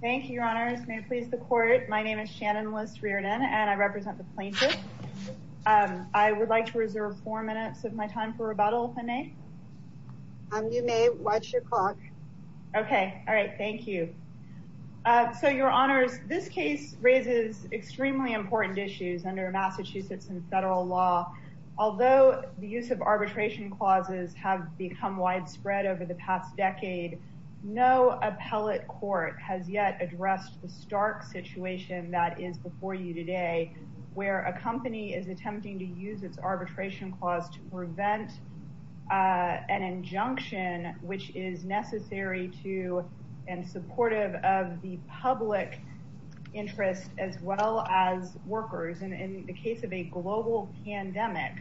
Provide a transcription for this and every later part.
Thank you, Your Honors. May it please the Court, my name is Shannon Lis Reardon and I represent the plaintiffs. I would like to reserve four minutes of my time for rebuttal, if I may. You may. Watch your clock. Okay. All right. Thank you. So, Your Honors, this case raises extremely important issues under Massachusetts and federal law. Although the use of arbitration clauses have become widespread over the past decade, no appellate court has yet addressed the stark situation that is before you today, where a company is attempting to use its arbitration clause to prevent an injunction, which is necessary to and supportive of the public interest as well as workers. In the case of a global pandemic,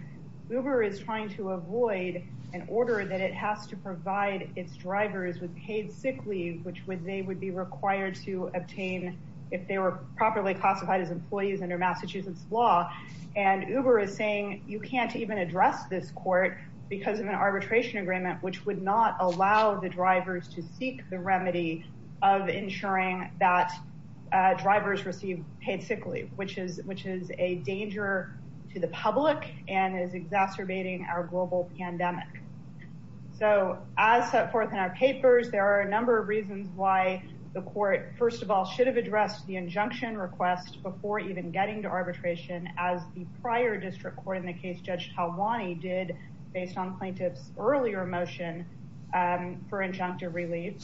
Uber is trying to avoid an order that it has to provide its drivers with paid sick leave, which they would be required to obtain if they were properly classified as employees under Massachusetts law. And Uber is saying you can't even address this court because of an arbitration agreement, which would not allow the drivers to seek the remedy of ensuring that drivers receive paid sick leave, which is a danger to the public and is exacerbating our global pandemic. So as set forth in our papers, there are a number of reasons why the court, first of all, should have addressed the injunction request before even getting to arbitration, as the prior district court in the case Judge Talwani did based on plaintiffs earlier motion for injunctive relief.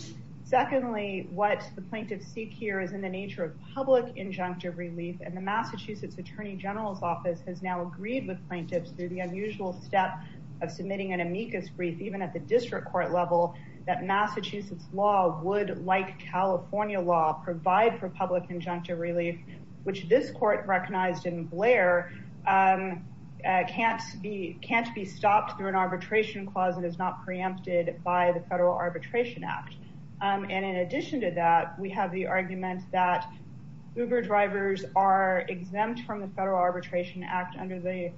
Secondly, what the plaintiffs seek here is in the nature of public injunctive relief. And the Massachusetts attorney general's office has now agreed with plaintiffs through the unusual step of submitting an amicus brief, even at the district court level, that Massachusetts law would, like California law, provide for public injunctive relief, which this court recognized in Blair can't be stopped through an arbitration clause that is not preempted by the Federal Arbitration Act. And in addition to that, we have the argument that Uber drivers are exempt from the Federal Arbitration Act under the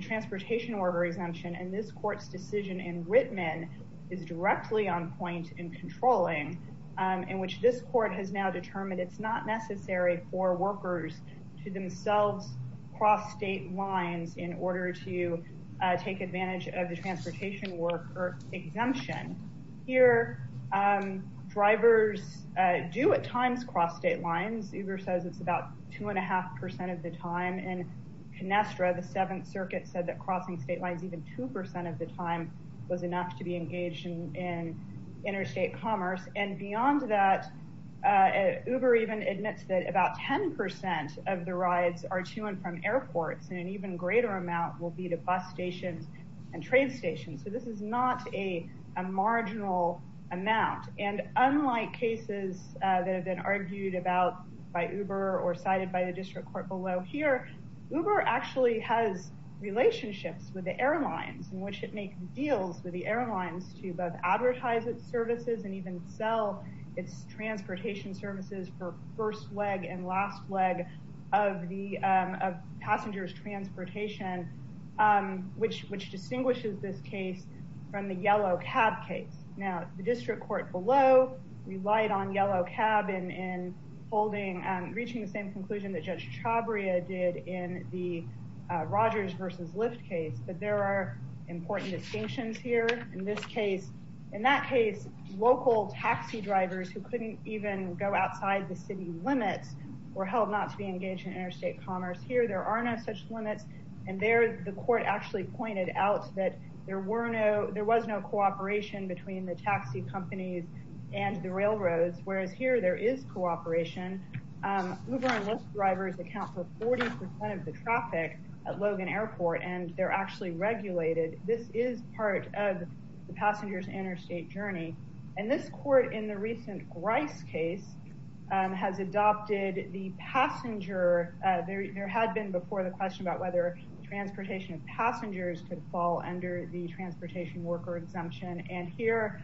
transportation order exemption. And this court's decision in Whitman is directly on point in controlling, in which this court has now determined it's not necessary for workers to themselves cross state lines in order to take advantage of the transportation work or exemption. Here, drivers do at times cross state lines. Uber says it's about two and a half percent of the time. And in Conestra, the Seventh Circuit said that crossing state lines even 2% of the time was enough to be engaged in interstate commerce. And beyond that, Uber even admits that about 10% of the rides are to and from airports, and an even greater amount will be to bus stations and train stations. So this is not a marginal amount. And unlike cases that have been argued about by Uber or cited by the district court below here, Uber actually has relationships with the airlines in which it makes deals with the airlines to both advertise its services and even sell its transportation services for first leg and last leg of passengers' transportation, which distinguishes this case from the yellow cab case. Now, the district court below relied on yellow cab in reaching the same conclusion that Judge Chabria did in the Rogers v. Lyft case. But there are important distinctions here. In that case, local taxi drivers who couldn't even go outside the city limits were held not to be engaged in interstate commerce. Here, there are no such limits. And there, the court actually pointed out that there was no cooperation between the taxi companies and the railroads. Whereas here, there is cooperation. Uber and Lyft drivers account for 40% of the traffic at Logan Airport, and they're actually regulated. This is part of the passenger's interstate journey. And this court in the recent Grice case has adopted the passenger. There had been before the question about whether transportation of passengers could fall under the transportation worker exemption. And here,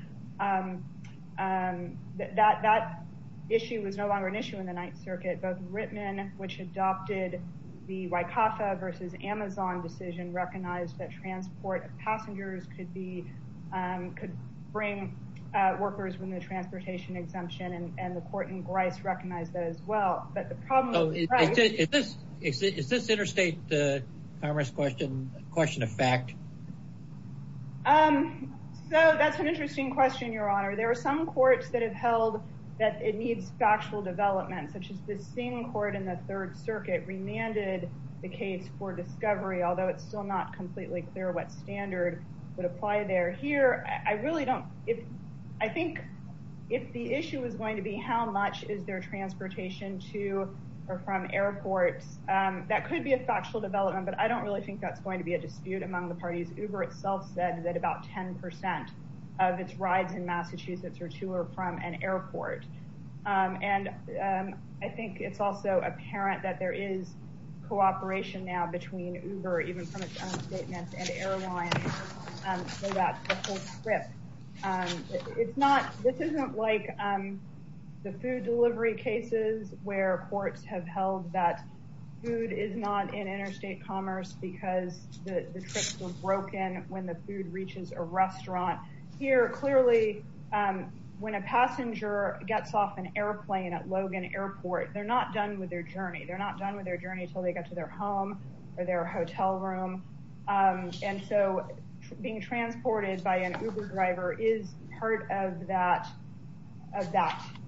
that issue was no longer an issue in the Ninth Circuit. Both Rittman, which adopted the WICAFA v. Amazon decision, recognized that transport of passengers could bring workers from the transportation exemption. And the court in Grice recognized that as well. But the problem with Grice— Is this interstate commerce question a question of fact? So, that's an interesting question, Your Honor. There are some courts that have held that it needs factual development, such as the same court in the Third Circuit remanded the case for discovery, although it's still not completely clear what standard would apply there. Here, I really don't—I think if the issue was going to be how much is there transportation to or from airports, that could be a factual development. But I don't really think that's going to be a dispute among the parties. Uber itself said that about 10 percent of its rides in Massachusetts are to or from an airport. And I think it's also apparent that there is cooperation now between Uber, even from its own statements, and Airline for that whole trip. It's not—this isn't like the food delivery cases where courts have held that food is not in interstate commerce because the trips were broken when the food reaches a restaurant. Here, clearly, when a passenger gets off an airplane at Logan Airport, they're not done with their journey. They're not done with their journey until they get to their home or their hotel room. And so being transported by an Uber driver is part of that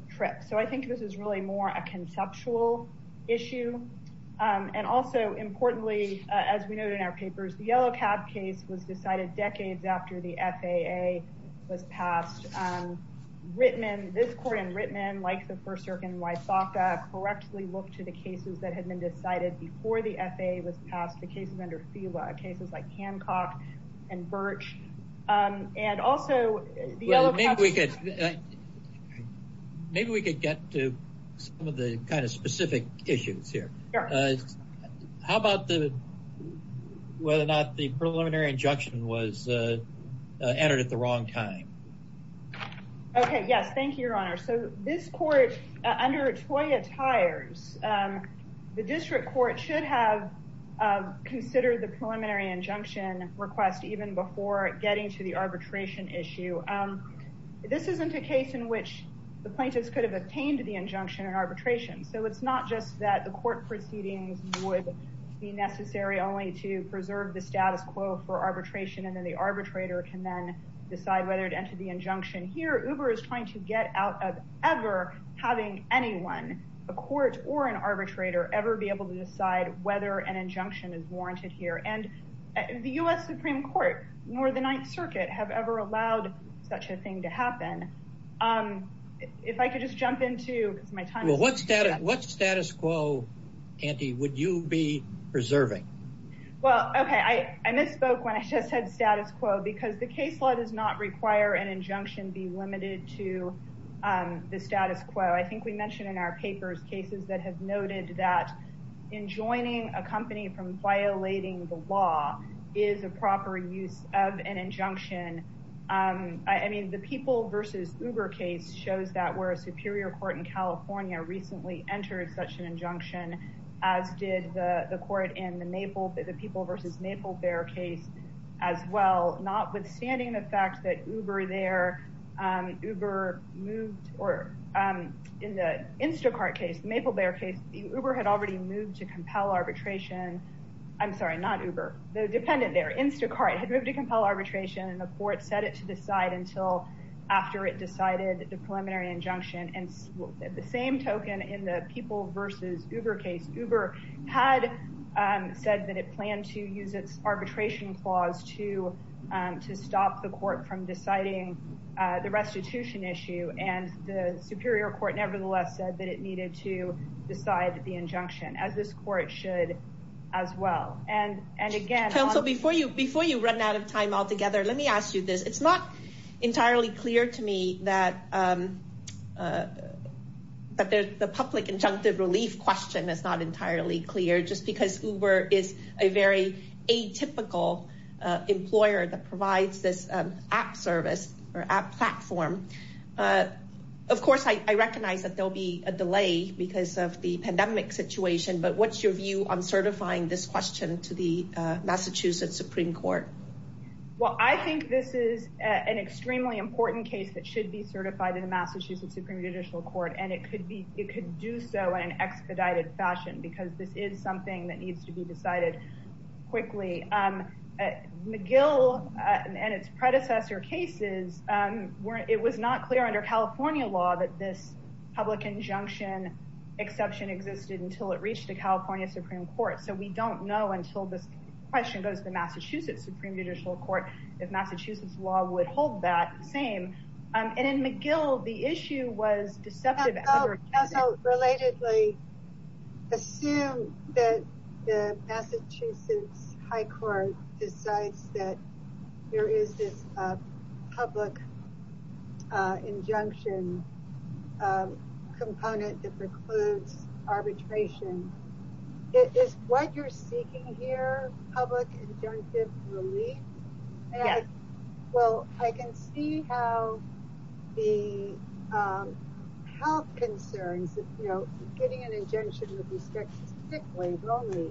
trip. So I think this is really more a conceptual issue. And also, importantly, as we noted in our papers, the Yellow Cab case was decided decades after the FAA was passed. Rittman, this court in Rittman, like the first circuit in Wyethawka, correctly looked to the cases that had been decided before the FAA was passed, the cases under FEWA, cases like Hancock and Birch. And also, the Yellow Cab— Maybe we could get to some of the kind of specific issues here. Sure. How about whether or not the preliminary injunction was entered at the wrong time? Okay, yes. Thank you, Your Honor. So this court, under TOIA tires, the district court should have considered the preliminary injunction request even before getting to the arbitration issue. This isn't a case in which the plaintiffs could have obtained the injunction in arbitration. So it's not just that the court proceedings would be necessary only to preserve the status quo for arbitration, and then the arbitrator can then decide whether to enter the injunction. Here, Uber is trying to get out of ever having anyone, a court or an arbitrator, ever be able to decide whether an injunction is warranted here. And the U.S. Supreme Court nor the Ninth Circuit have ever allowed such a thing to happen. If I could just jump into— Well, what status quo, Andy, would you be preserving? Well, okay, I misspoke when I just said status quo, because the case law does not require an injunction be limited to the status quo. I think we mentioned in our papers cases that have noted that enjoining a company from violating the law is a proper use of an injunction. I mean, the People v. Uber case shows that where a superior court in California recently entered such an injunction, as did the court in the People v. Maple Bear case as well. Notwithstanding the fact that Uber moved—or in the Instacart case, the Maple Bear case, Uber had already moved to compel arbitration. I'm sorry, not Uber. The dependent there, Instacart, had moved to compel arbitration, and the court set it to decide until after it decided the preliminary injunction. And the same token in the People v. Uber case, Uber had said that it planned to use its arbitration clause to stop the court from deciding the restitution issue, and the superior court nevertheless said that it needed to decide the injunction, as this court should as well. Counsel, before you run out of time altogether, let me ask you this. It's not entirely clear to me that the public injunctive relief question is not entirely clear, just because Uber is a very atypical employer that provides this app service or app platform. Of course, I recognize that there'll be a delay because of the pandemic situation, but what's your view on certifying this question to the Massachusetts Supreme Court? Well, I think this is an extremely important case that should be certified in the Massachusetts Supreme Judicial Court, and it could do so in an expedited fashion, because this is something that needs to be decided quickly. McGill and its predecessor cases, it was not clear under California law that this public injunction exception existed until it reached the California Supreme Court, so we don't know until this question goes to the Massachusetts Supreme Judicial Court if Massachusetts law would hold that same. And in McGill, the issue was deceptive. Counsel, relatedly, assume that the Massachusetts High Court decides that there is this public injunction component that precludes arbitration. Is what you're seeking here public injunctive relief? Yes. Well, I can see how the health concerns, you know, getting an injunction with respect to sick leave only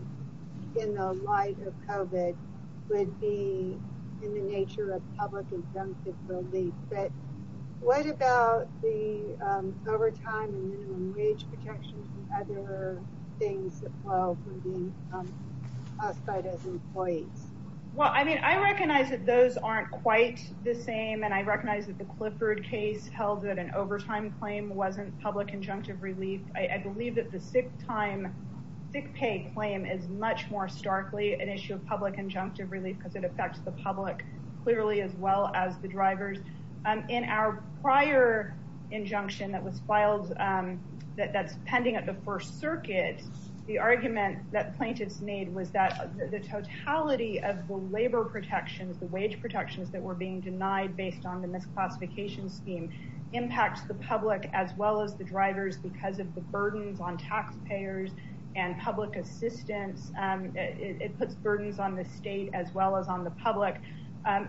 in the light of COVID would be in the nature of public injunctive relief, but what about the overtime and minimum wage protections and other things that fall from being classified as employees? Well, I mean, I recognize that those aren't quite the same, and I recognize that the Clifford case held that an overtime claim wasn't public injunctive relief. I believe that the sick time, sick pay claim is much more starkly an issue of public injunctive relief because it affects the public clearly as well as the drivers. In our prior injunction that was filed, that's pending at the First Circuit, the argument that plaintiffs made was that the totality of the labor protections, the wage protections that were being denied based on the misclassification scheme impacts the public as well as the drivers because of the burdens on taxpayers and public assistance. It puts burdens on the state as well as on the public.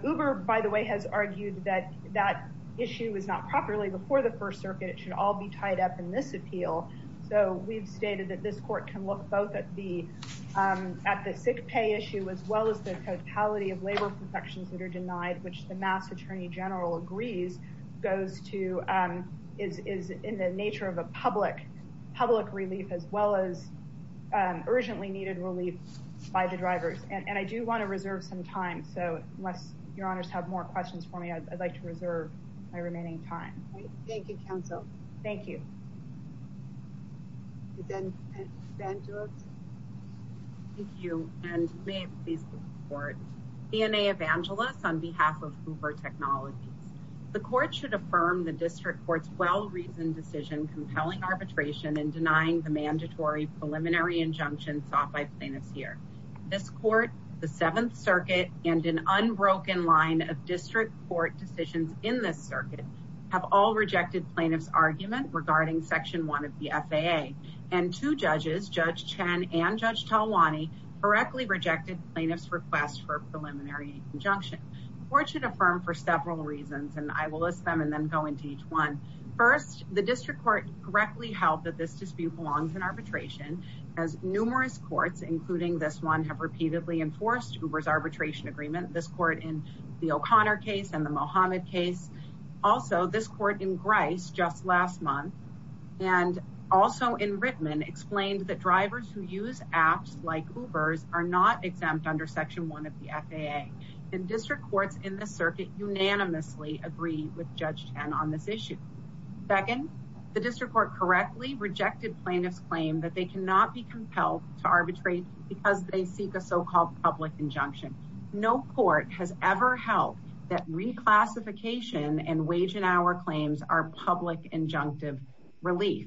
Uber, by the way, has argued that that issue was not properly before the First Circuit. It should all be tied up in this appeal. So we've stated that this court can look both at the at the sick pay issue as well as the totality of labor protections that are denied, which the Mass. Attorney General agrees goes to is in the nature of a public public relief as well as urgently needed relief by the drivers. And I do want to reserve some time. So unless your honors have more questions for me, I'd like to reserve my remaining time. Thank you, counsel. Thank you. Thank you. And please. DNA evangelists on behalf of Uber technology. The court should affirm the district court's well-reasoned decision, compelling arbitration and denying the mandatory preliminary injunction sought by plaintiffs here. This court, the Seventh Circuit and an unbroken line of district court decisions in this circuit have all rejected plaintiffs argument regarding section one of the FAA and two judges, Judge Chen and Judge Tawani correctly rejected plaintiffs request for preliminary injunction. Court should affirm for several reasons, and I will list them and then go into each one. First, the district court correctly held that this dispute belongs in arbitration as numerous courts, including this one have repeatedly enforced Uber's arbitration agreement. This court in the O'Connor case and the Mohammed case. Also, this court in Grice just last month and also in Rittman explained that drivers who use apps like Uber's are not exempt under section one of the FAA and district courts in the circuit unanimously agree with Judge Chen on this issue. Second, the district court correctly rejected plaintiffs claim that they cannot be compelled to arbitrate because they seek a so-called public injunction. No court has ever held that reclassification and wage and hour claims are public injunctive relief.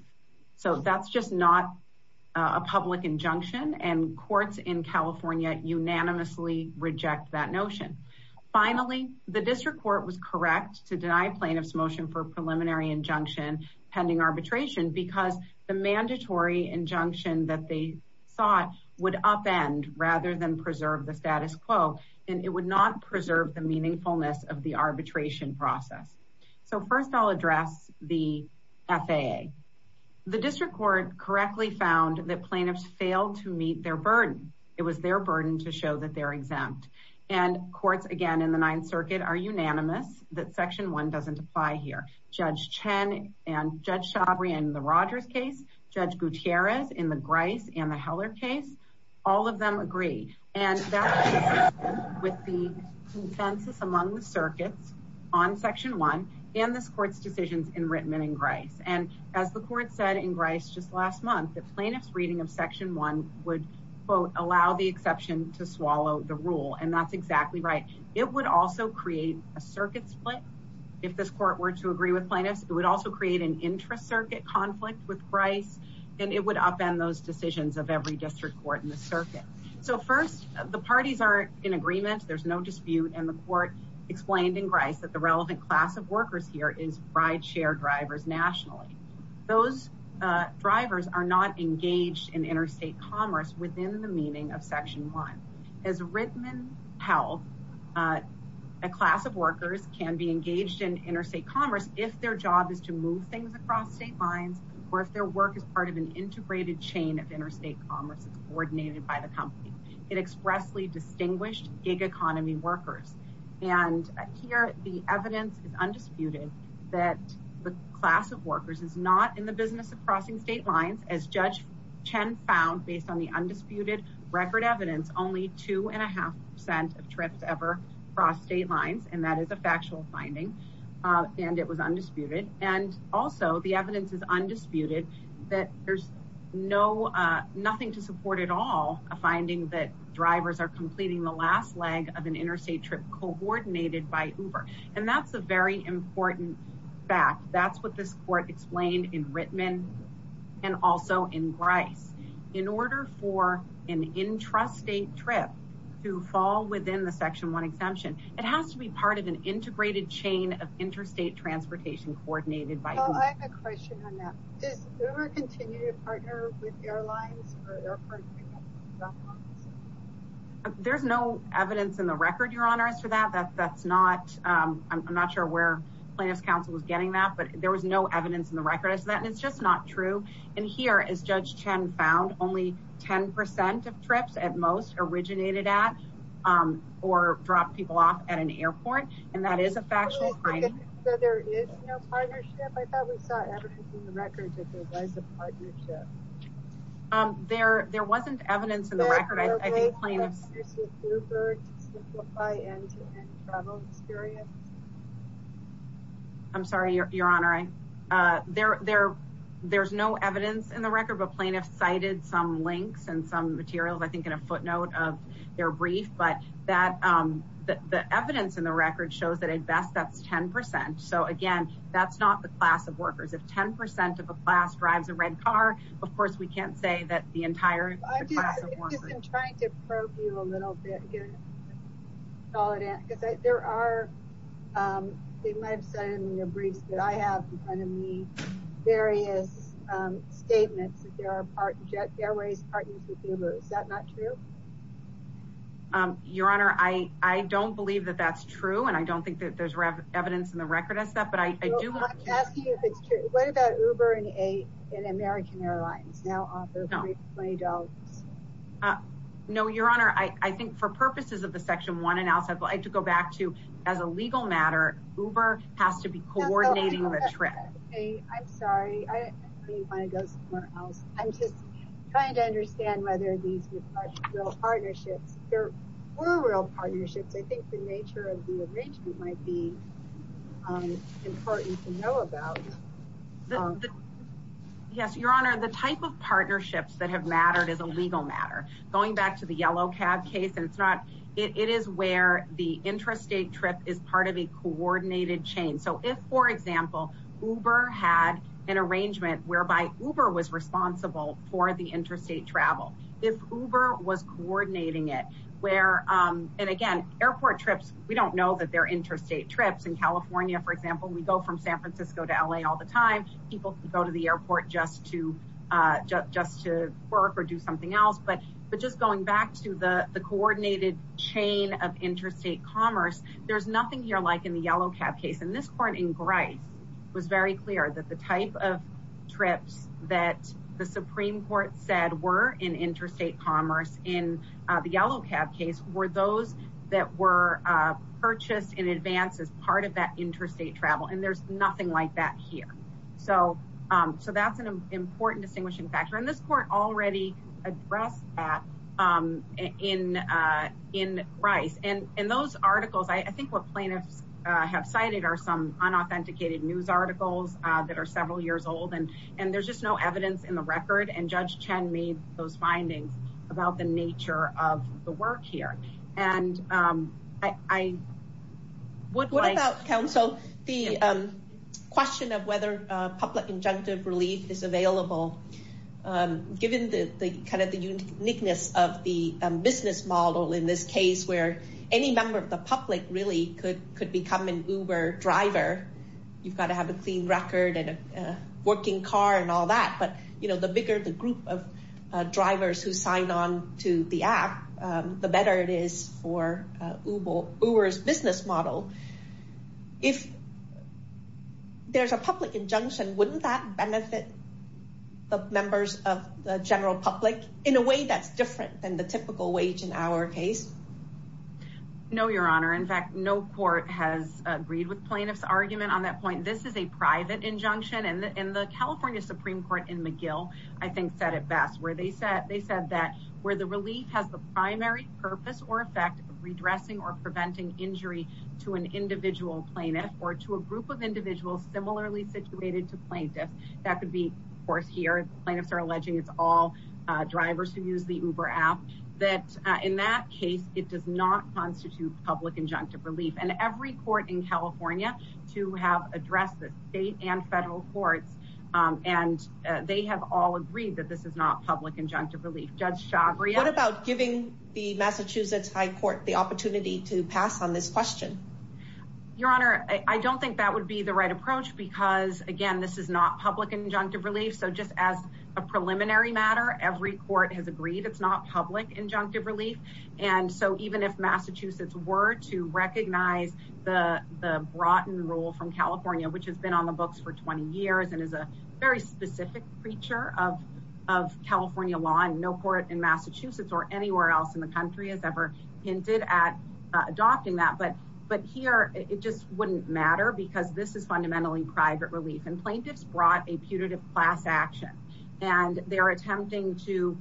So that's just not a public injunction and courts in California unanimously reject that notion. Finally, the district court was correct to deny plaintiffs motion for preliminary injunction pending arbitration because the mandatory injunction that they thought would upend rather than preserve the status quo and it would not preserve the meaningfulness of the arbitration process. So first I'll address the FAA. The district court correctly found that plaintiffs failed to meet their burden. It was their burden to show that they're exempt and courts again in the ninth circuit are unanimous that section one doesn't apply here. And as the court said in Grice just last month, the plaintiff's reading of section one would quote allow the exception to swallow the rule and that's exactly right. It would also create a circuit split. If this court were to agree with plaintiffs, it would also create an intra-circuit conflict with Grice and it would upend those decisions of every district court in the circuit. So first, the parties are in agreement. There's no dispute and the court explained in Grice that the relevant class of workers here is ride share drivers nationally. Those drivers are not engaged in interstate commerce within the meaning of section one. As Rittman held, a class of workers can be engaged in interstate commerce if their job is to move things across state lines or if their work is part of an integrated chain of interstate commerce that's coordinated by the company. It expressly distinguished gig economy workers and here the evidence is undisputed that the class of workers is not in the business of crossing state lines as Judge Chen found based on the undisputed record evidence only two and a half percent of trips ever cross state lines and that is a factual finding and it was undisputed. And also, the evidence is undisputed that there's nothing to support at all a finding that drivers are completing the last leg of an interstate trip coordinated by Uber and that's a very important fact. That's what this court explained in Rittman and also in Grice. In order for an intrastate trip to fall within the section one exemption, it has to be part of an integrated chain of interstate transportation coordinated by Uber. I have a question on that. Does Uber continue to partner with airlines or airports? There's no evidence in the record, Your Honor, as to that. That's not, I'm not sure where Plaintiff's counsel was getting that, but there was no evidence in the record as to that and it's just not true. And here, as Judge Chen found, only 10% of trips at most originated at or dropped people off at an airport and that is a factual finding. So there is no partnership? I thought we saw evidence in the record that there was a partnership. There wasn't evidence in the record, I think Plaintiff's... Is there a way for companies like Uber to simplify end-to-end travel experience? I'm sorry, Your Honor. There's no evidence in the record, but Plaintiff's cited some links and some materials, I think in a footnote of their brief. But the evidence in the record shows that at best that's 10%. So again, that's not the class of workers. If 10% of a class drives a red car, of course we can't say that the entire class of workers... I'm just trying to probe you a little bit, because there are, they might have said in their briefs that I have in front of me, various statements that there are airways partners with Uber. Is that not true? Your Honor, I don't believe that that's true and I don't think that there's evidence in the record as to that, but I do... I'm asking you if it's true. What about Uber and American Airlines now offer free $20? No, Your Honor. I think for purposes of the Section 1 analysis, I'd like to go back to, as a legal matter, Uber has to be coordinating the trip. I'm sorry. I don't even want to go somewhere else. I'm just trying to understand whether these are real partnerships. If there were real partnerships, I think the nature of the arrangement might be important to know about. Yes, Your Honor. The type of partnerships that have mattered is a legal matter. Going back to the yellow cab case, it is where the intrastate trip is part of a coordinated chain. So if, for example, Uber had an arrangement whereby Uber was responsible for the interstate travel. If Uber was coordinating it, where, and again, airport trips, we don't know that they're interstate trips. In California, for example, we go from San Francisco to L.A. all the time. People go to the airport just to work or do something else. But just going back to the coordinated chain of interstate commerce, there's nothing here like in the yellow cab case. And this court in Grice was very clear that the type of trips that the Supreme Court said were in interstate commerce in the yellow cab case were those that were purchased in advance as part of that interstate travel. And there's nothing like that here. So that's an important distinguishing factor. And this court already addressed that in Grice. And those articles, I think what plaintiffs have cited are some unauthenticated news articles that are several years old. And there's just no evidence in the record. And Judge Chen made those findings about the nature of the work here. What about counsel, the question of whether public injunctive relief is available, given the uniqueness of the business model in this case where any member of the public really could become an Uber driver. You've got to have a clean record and a working car and all that. But the bigger the group of drivers who sign on to the app, the better it is for Uber's business model. If there's a public injunction, wouldn't that benefit the members of the general public in a way that's different than the typical wage in our case? No, Your Honor. In fact, no court has agreed with plaintiffs' argument on that point. This is a private injunction. And the California Supreme Court in McGill, I think, said it best. They said that where the relief has the primary purpose or effect of redressing or preventing injury to an individual plaintiff or to a group of individuals similarly situated to plaintiffs, that could be, of course, here. Plaintiffs are alleging it's all drivers who use the Uber app. That in that case, it does not constitute public injunctive relief. And every court in California to have addressed this, state and federal courts, and they have all agreed that this is not public injunctive relief. What about giving the Massachusetts High Court the opportunity to pass on this question? Your Honor, I don't think that would be the right approach because, again, this is not public injunctive relief. This is a preliminary matter. Every court has agreed it's not public injunctive relief. And so even if Massachusetts were to recognize the Broughton rule from California, which has been on the books for 20 years and is a very specific creature of California law, and no court in Massachusetts or anywhere else in the country has ever hinted at adopting that. But here, it just wouldn't matter because this is fundamentally private relief. And plaintiffs brought a putative class action. And they're attempting to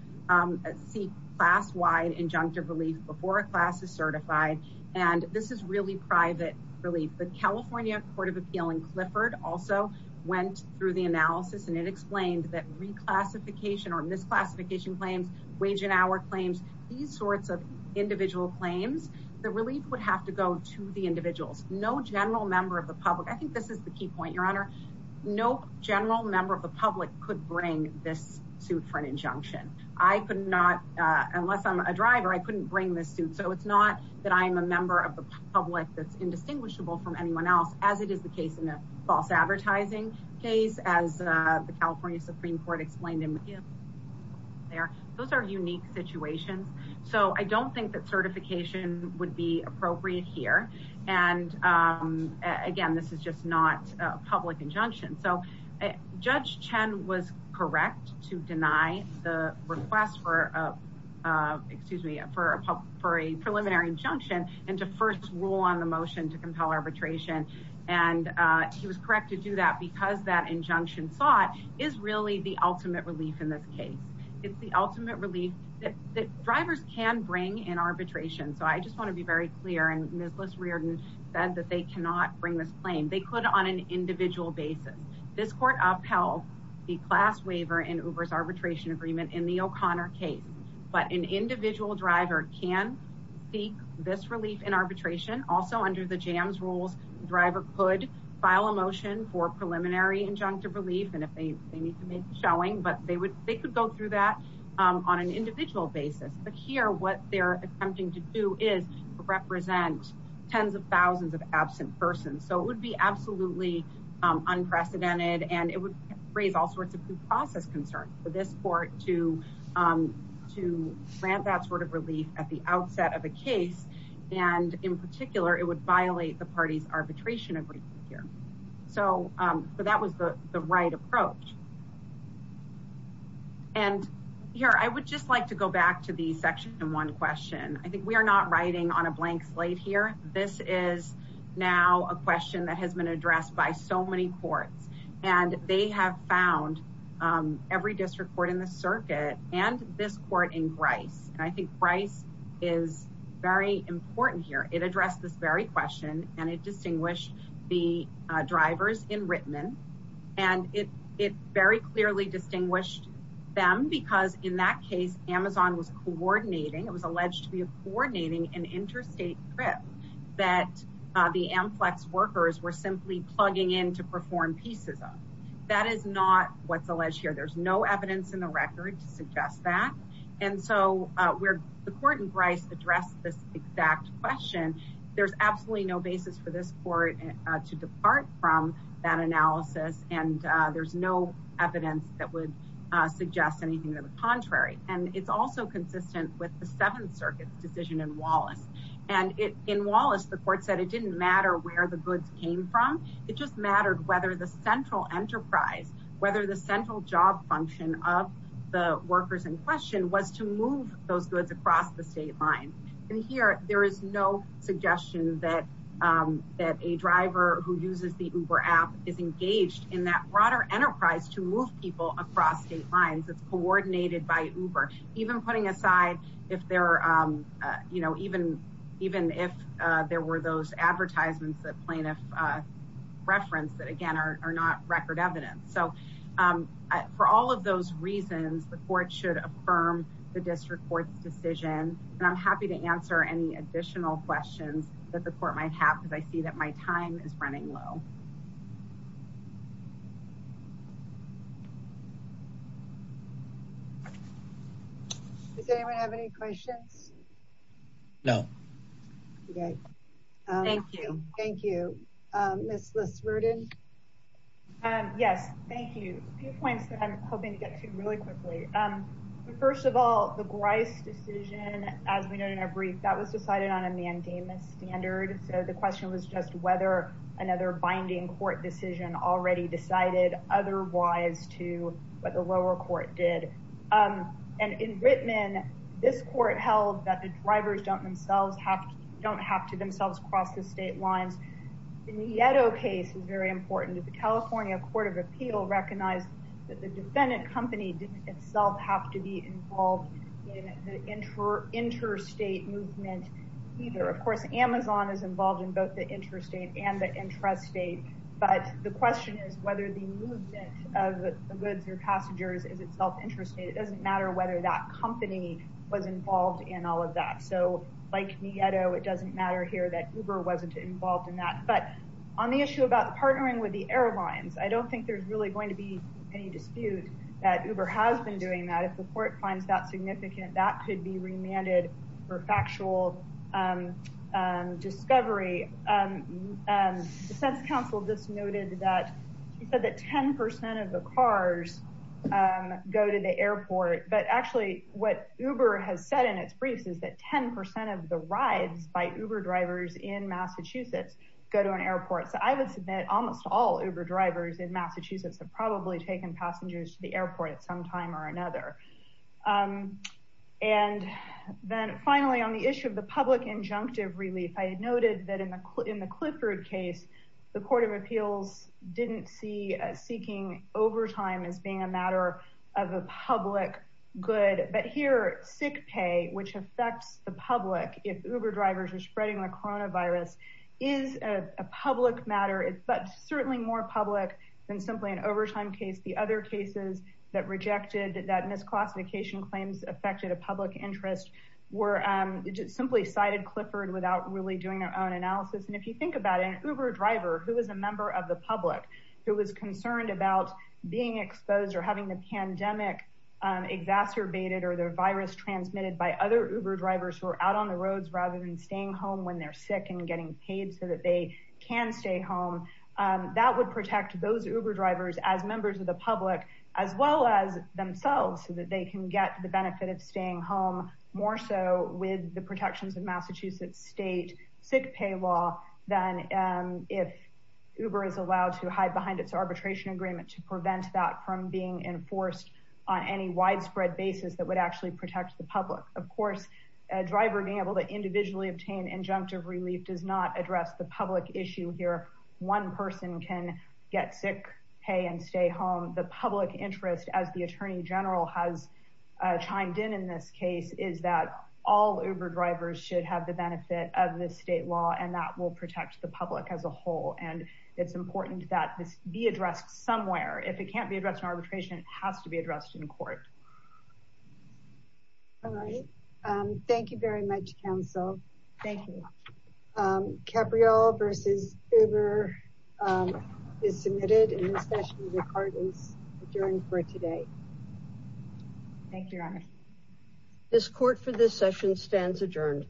seek class-wide injunctive relief before a class is certified. And this is really private relief. The California Court of Appeal in Clifford also went through the analysis, and it explained that reclassification or misclassification claims, wage and hour claims, these sorts of individual claims, the relief would have to go to the individuals. No general member of the public. I think this is the key point, Your Honor. No general member of the public could bring this suit for an injunction. I could not, unless I'm a driver, I couldn't bring this suit. So it's not that I'm a member of the public that's indistinguishable from anyone else, as it is the case in a false advertising case, as the California Supreme Court explained. Those are unique situations. So I don't think that certification would be appropriate here. And again, this is just not a public injunction. So Judge Chen was correct to deny the request for a preliminary injunction and to first rule on the motion to compel arbitration. And he was correct to do that because that injunction sought is really the ultimate relief in this case. It's the ultimate relief that drivers can bring in arbitration. So I just want to be very clear, and Ms. Lis Reardon said that they cannot bring this claim. They could on an individual basis. This court upheld the class waiver in Uber's arbitration agreement in the O'Connor case. But an individual driver can seek this relief in arbitration. Also under the JAMS rules, the driver could file a motion for preliminary injunctive relief, and if they need to make a showing, but they could go through that on an individual basis. But here, what they're attempting to do is represent tens of thousands of absent persons. This is absolutely unprecedented, and it would raise all sorts of due process concerns for this court to grant that sort of relief at the outset of a case. And in particular, it would violate the party's arbitration agreement here. So that was the right approach. And here, I would just like to go back to the section one question. I think we are not writing on a blank slate here. This is now a question that has been addressed by so many courts, and they have found every district court in the circuit and this court in Bryce. And I think Bryce is very important here. It addressed this very question, and it distinguished the drivers in Rittman, and it very clearly distinguished them because in that case, Amazon was coordinating. It was alleged to be coordinating an interstate trip that the AmFlex workers were simply plugging in to perform pieces of. That is not what's alleged here. There's no evidence in the record to suggest that. And so the court in Bryce addressed this exact question. There's absolutely no basis for this court to depart from that analysis, and there's no evidence that would suggest anything to the contrary. And it's also consistent with the Seventh Circuit's decision in Wallace. And in Wallace, the court said it didn't matter where the goods came from. It just mattered whether the central enterprise, whether the central job function of the workers in question was to move those goods across the state line. And here, there is no suggestion that a driver who uses the Uber app is engaged in that broader enterprise to move people across state lines. It's coordinated by Uber. Even putting aside if there were those advertisements that plaintiff referenced that, again, are not record evidence. So for all of those reasons, the court should affirm the district court's decision, and I'm happy to answer any additional questions that the court might have because I see that my time is running low. Does anyone have any questions? No. Okay. Thank you. Thank you. Ms. Liswerden? Yes, thank you. A few points that I'm hoping to get to really quickly. First of all, the Bryce decision, as we know in our brief, that was decided on a mandamus standard. So the question was just whether another binding court decision already decided otherwise to what the lower court did. And in Whitman, this court held that the drivers don't have to themselves cross the state lines. In the Yeddo case, it's very important that the California Court of Appeal recognized that the defendant company didn't itself have to be involved in the interstate movement either. Of course, Amazon is involved in both the interstate and the intrastate, but the question is whether the movement of goods or passengers is itself interstate. It doesn't matter whether that company was involved in all of that. So like the Yeddo, it doesn't matter here that Uber wasn't involved in that. But on the issue about partnering with the airlines, I don't think there's really going to be any dispute that Uber has been doing that. If the court finds that significant, that could be remanded for factual discovery. The defense counsel just noted that 10% of the cars go to the airport. But actually what Uber has said in its briefs is that 10% of the rides by Uber drivers in Massachusetts go to an airport. So I would submit almost all Uber drivers in Massachusetts have probably taken passengers to the airport at some time or another. And then finally, on the issue of the public injunctive relief, I had noted that in the Clifford case, the court of appeals didn't see seeking overtime as being a matter of a public good. But here, sick pay, which affects the public if Uber drivers are spreading the coronavirus, is a public matter, but certainly more public than simply an overtime case. The other cases that rejected that misclassification claims affected a public interest were simply cited Clifford as simply doing their own analysis. And if you think about it, an Uber driver who is a member of the public who is concerned about being exposed or having the pandemic exacerbated or the virus transmitted by other Uber drivers who are out on the roads rather than staying home when they're sick and getting paid so that they can stay home, that would protect those Uber drivers as members of the public as well as themselves so that they can get the benefit of staying home more so with the protections of Massachusetts state sick pay law than if Uber is allowed to hide behind its arbitration agreement to prevent that from being enforced on any widespread basis that would actually protect the public. Of course, a driver being able to individually obtain injunctive relief does not address the public issue here. One person can get sick pay and stay home. The public interest, as the Attorney General has chimed in in this case, is that all Uber drivers should have the benefit of the state law and that will protect the public as a whole. And it's important that this be addressed somewhere. If it can't be addressed in arbitration, it has to be addressed in court. All right. Thank you very much, counsel. Thank you. Capriol versus Uber is submitted in this session. The card is adjourned for today. Thank you, Your Honor. This court for this session stands adjourned.